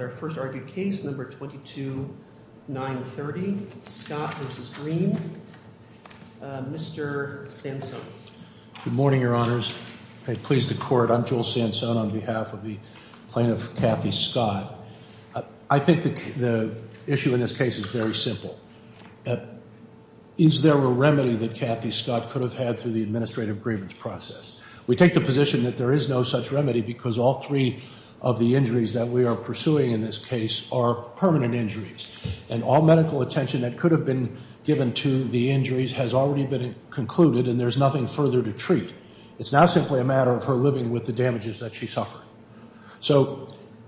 at our first argued case, number 22930, Scott v. Greene. Mr. Sansone. Good morning, your honors. I please the court. I'm Joel Sansone on behalf of the plaintiff, Kathy Scott. I think the issue in this case is very simple. Is there a remedy that Kathy Scott could have had through the administrative grievance process? We take the position that there is no such remedy because all three of the injuries that we are pursuing in this case are permanent injuries. And all medical attention that could have been given to the injuries has already been concluded and there's nothing further to treat. It's now simply a matter of her living with the damages that she suffered. So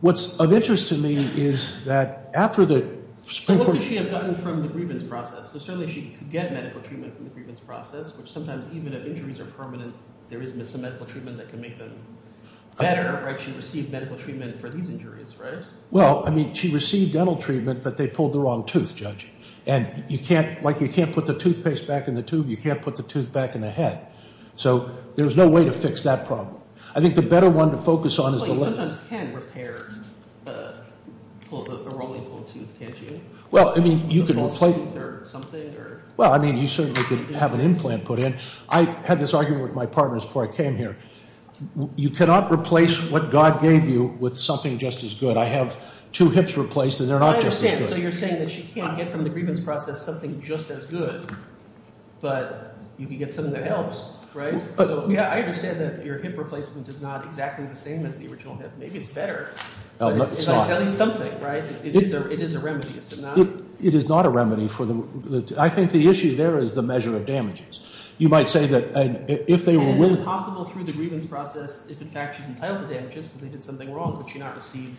what's of interest to me is that after the Supreme Court- So what could she have gotten from the grievance process? So certainly she could get medical treatment from the grievance process, which sometimes even if injuries are permanent, there is some medical treatment that can make them better, right? She received medical treatment for these injuries, right? Well, I mean, she received dental treatment, but they pulled the wrong tooth, Judge. And you can't, like you can't put the toothpaste back in the tube, you can't put the tooth back in the head. So there's no way to fix that problem. I think the better one to focus on is the- But you sometimes can repair a rolling tooth, can't you? Well, I mean, you can replace- A false tooth or something, or- Well, I mean, you certainly could have an implant put in. I had this argument with my partners before I came here. You cannot replace what God gave you with something just as good. I have two hips replaced, and they're not just as good. I understand, so you're saying that she can't get from the grievance process something just as good, but you can get something that helps, right? So yeah, I understand that your hip replacement is not exactly the same as the original hip. Maybe it's better. No, it's not. It's at least something, right? It is a remedy, it's not- It is not a remedy for the- I think the issue there is the measure of damages. You might say that if they were willing- Is it possible through the grievance process, if in fact she's entitled to damages because they did something wrong, could she not receive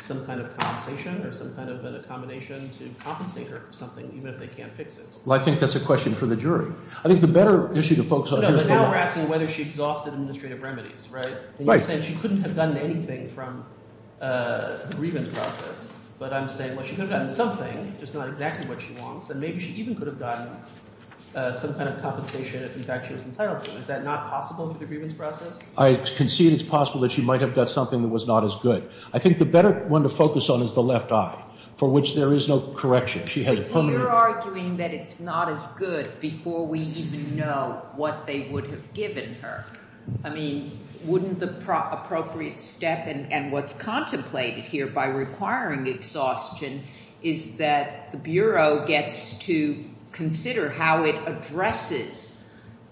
some kind of compensation or some kind of an accommodation to compensate her for something, even if they can't fix it? Well, I think that's a question for the jury. I think the better issue to focus on- No, but now we're asking whether she exhausted administrative remedies, right? And you're saying she couldn't have gotten anything from the grievance process, but I'm saying, well, she could have gotten something, just not exactly what she wants, and maybe she even could have gotten some kind of compensation if in fact she was entitled to. Is that not possible through the grievance process? I concede it's possible that she might have got something that was not as good. I think the better one to focus on is the left eye, for which there is no correction. She has- But you're arguing that it's not as good before we even know what they would have given her. I mean, wouldn't the appropriate step, and what's contemplated here by requiring exhaustion, is that the Bureau gets to consider how it addresses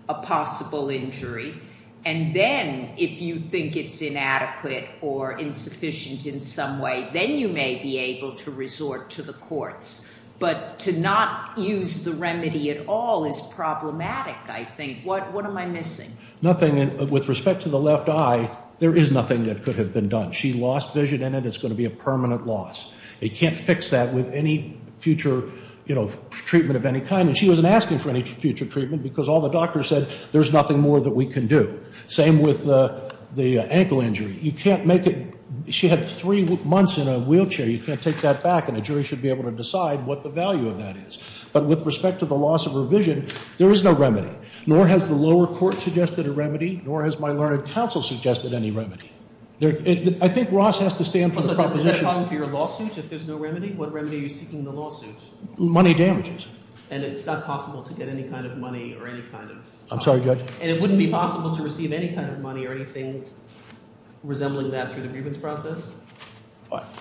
a possible injury, and then if you think it's inadequate or insufficient in some way, then you may be able to resort to the courts. But to not use the remedy at all is problematic, I think. What am I missing? Nothing, with respect to the left eye, there is nothing that could have been done. She lost vision in it, it's gonna be a permanent loss. They can't fix that with any future treatment of any kind, and she wasn't asking for any future treatment because all the doctors said, there's nothing more that we can do. Same with the ankle injury, you can't make it, she had three months in a wheelchair, you can't take that back, and a jury should be able to decide what the value of that is. But with respect to the loss of her vision, there is no remedy, nor has the lower court suggested a remedy, nor has my learned counsel suggested any remedy. I think Ross has to stand for the proposition- But at the time of your lawsuit, if there's no remedy, what remedy are you seeking in the lawsuit? Money damages. And it's not possible to get any kind of money, or any kind of- I'm sorry, Judge? And it wouldn't be possible to receive any kind of money or anything resembling that through the grievance process?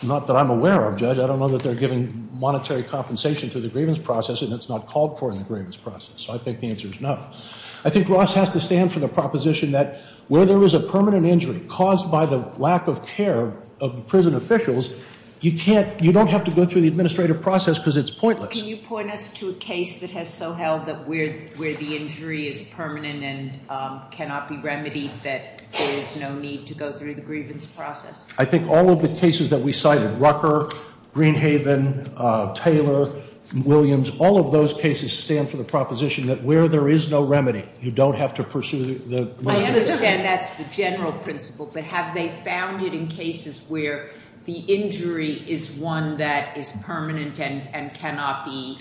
Not that I'm aware of, Judge, I don't know that they're giving monetary compensation through the grievance process, and it's not called for in the grievance process, so I think the answer is no. I think Ross has to stand for the proposition that where there is a permanent injury caused by the lack of care of prison officials, you don't have to go through the administrative process because it's pointless. But can you point us to a case that has so held that where the injury is permanent and cannot be remedied, that there is no need to go through the grievance process? I think all of the cases that we cited, Rucker, Greenhaven, Taylor, Williams, all of those cases stand for the proposition that where there is no remedy, you don't have to pursue the- I understand that's the general principle, but have they found it in cases where the injury is one that is permanent and cannot be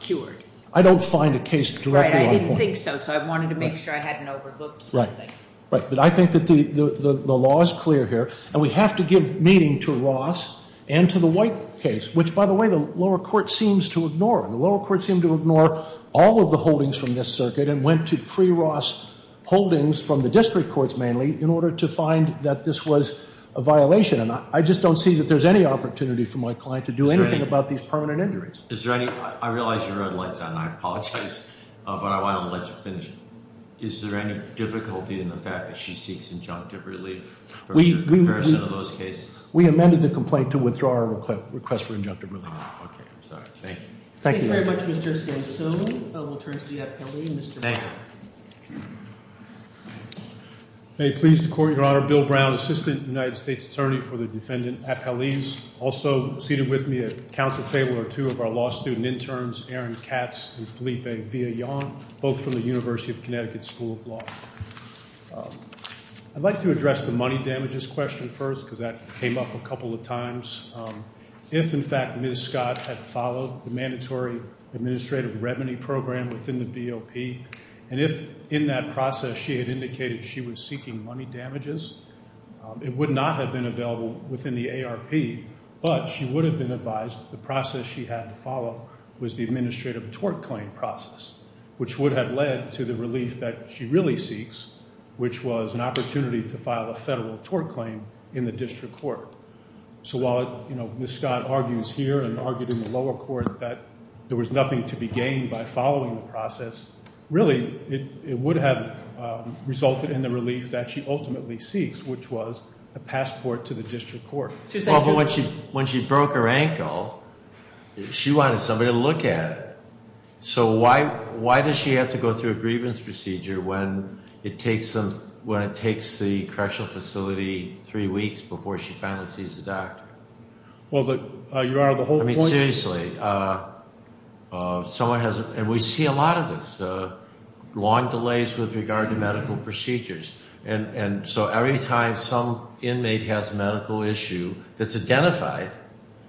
cured? I don't find a case directly on point. Right, I didn't think so, so I wanted to make sure I hadn't overlooked something. Right, but I think that the law is clear here, and we have to give meaning to Ross and to the White case, which, by the way, the lower court seems to ignore. The lower court seemed to ignore all of the holdings from this circuit and went to pre-Ross holdings from the district courts mainly in order to find that this was a violation, and I just don't see that there's any opportunity for my client to do anything about these permanent injuries. Is there any, I realize you're out of lights on, and I apologize, but I want to let you finish. Is there any difficulty in the fact that she seeks injunctive relief from your comparison of those cases? We amended the complaint to withdraw our request for injunctive relief. Okay, I'm sorry, thank you. Thank you. Thank you very much, Mr. Sassone. We'll turn to the appellee, Mr. Brown. Thank you. May it please the court, Your Honor, Bill Brown, Assistant United States Attorney for the Defendant Appellees, also seated with me at Council Table are two of our law student interns, Aaron Katz and Felipe Villallon, both from the University of Connecticut School of Law. I'd like to address the money damages question first, because that came up a couple of times. If, in fact, Ms. Scott had followed the mandatory administrative revenue program within the BOP, and if in that process she had indicated she was seeking money damages, it would not have been available within the ARP, but she would have been advised the process she had to follow was the administrative tort claim process, which would have led to the relief that she really seeks, which was an opportunity to file a federal tort claim in the district court. So while Ms. Scott argues here and argued in the lower court that there was nothing to be gained by following the process, really it would have resulted in the relief that she ultimately seeks, which was a passport to the district court. When she broke her ankle, she wanted somebody to look at it. So why does she have to go through a grievance procedure when it takes the correctional facility three weeks before she finally sees the doctor? Well, Your Honor, the whole point is- I mean, seriously. And we see a lot of this, long delays with regard to medical procedures. And so every time some inmate has a medical issue that's identified,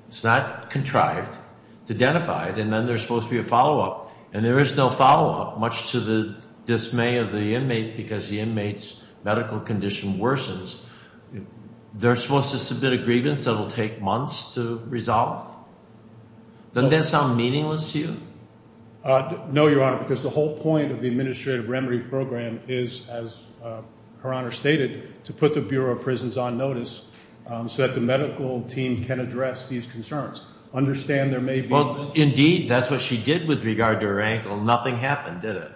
it's not contrived, it's identified, and then there's supposed to be a follow-up and there is no follow-up, much to the dismay of the inmate because the inmate's medical condition worsens. They're supposed to submit a grievance that'll take months to resolve. Doesn't that sound meaningless to you? No, Your Honor, because the whole point of the administrative remedy program is, as Her Honor stated, to put the Bureau of Prisons on notice so that the medical team can address these concerns. Understand there may be- Well, indeed, that's what she did with regard to her ankle. Nothing happened, did it?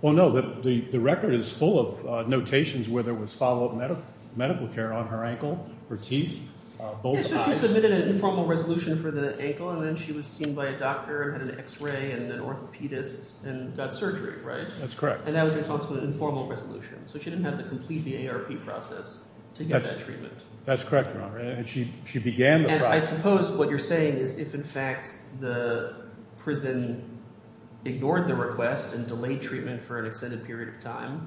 Well, no, the record is full of notations where there was follow-up medical care on her ankle, her teeth, both sides. So she submitted an informal resolution for the ankle and then she was seen by a doctor and had an X-ray and an orthopedist and got surgery, right? That's correct. And that was in response to an informal resolution. So she didn't have to complete the AARP process to get that treatment. That's correct, Your Honor, and she began the process- And I suppose what you're saying is if, in fact, the prison ignored the request and delayed treatment for an extended period of time,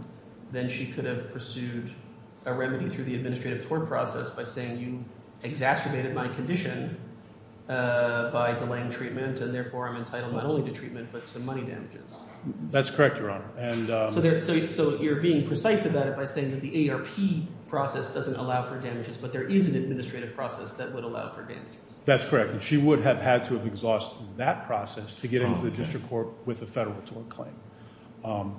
then she could have pursued a remedy through the administrative tort process by saying, you exacerbated my condition by delaying treatment and therefore I'm entitled not only to treatment, but some money damages. That's correct, Your Honor, and- So you're being precise about it by saying that the AARP process doesn't allow for damages, but there is an administrative process that would allow for damages. That's correct, and she would have had to have exhausted that process to get into the district court with a federal tort claim.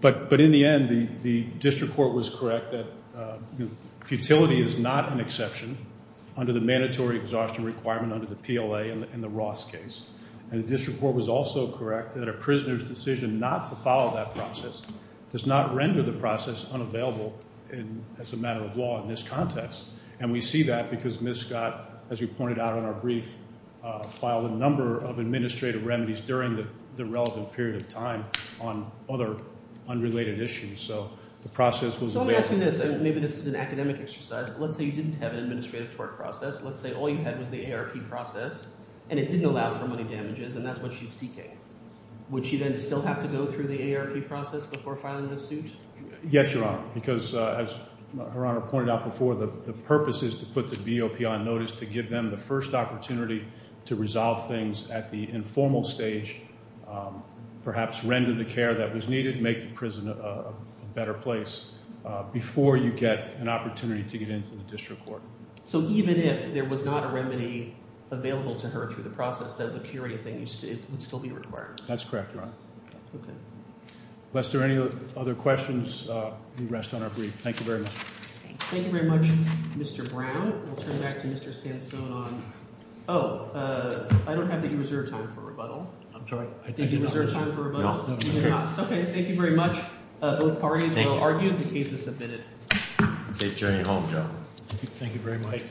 But in the end, the district court was correct that futility is not an exception under the mandatory exhaustion requirement under the PLA in the Ross case. And the district court was also correct that a prisoner's decision not to follow that process does not render the process unavailable as a matter of law in this context. And we see that because Ms. Scott, as you pointed out in our brief, filed a number of administrative remedies during the relevant period of time on other unrelated issues. So the process was- So let me ask you this, and maybe this is an academic exercise, let's say you didn't have an administrative tort process, let's say all you had was the AARP process, and it didn't allow for money damages, and that's what she's seeking. Would she then still have to go through the AARP process before filing this suit? Yes, Your Honor, because as Her Honor pointed out before, the purpose is to put the BOP on notice to give them the first opportunity to resolve things at the informal stage, perhaps render the care that was needed, make the prison a better place before you get an opportunity to get into the district court. So even if there was not a remedy available to her through the process, the curia thing would still be required? That's correct, Your Honor. Okay. Lest there are any other questions, we rest on our brief. Thank you very much. Thank you very much, Mr. Brown. We'll turn back to Mr. Sansone on... Oh, I don't have any reserved time for rebuttal. I'm sorry, I did not- Did you reserve time for rebuttal? No, no. Okay, thank you very much. Both parties will argue the case is submitted. Safe journey home, John. Thank you very much.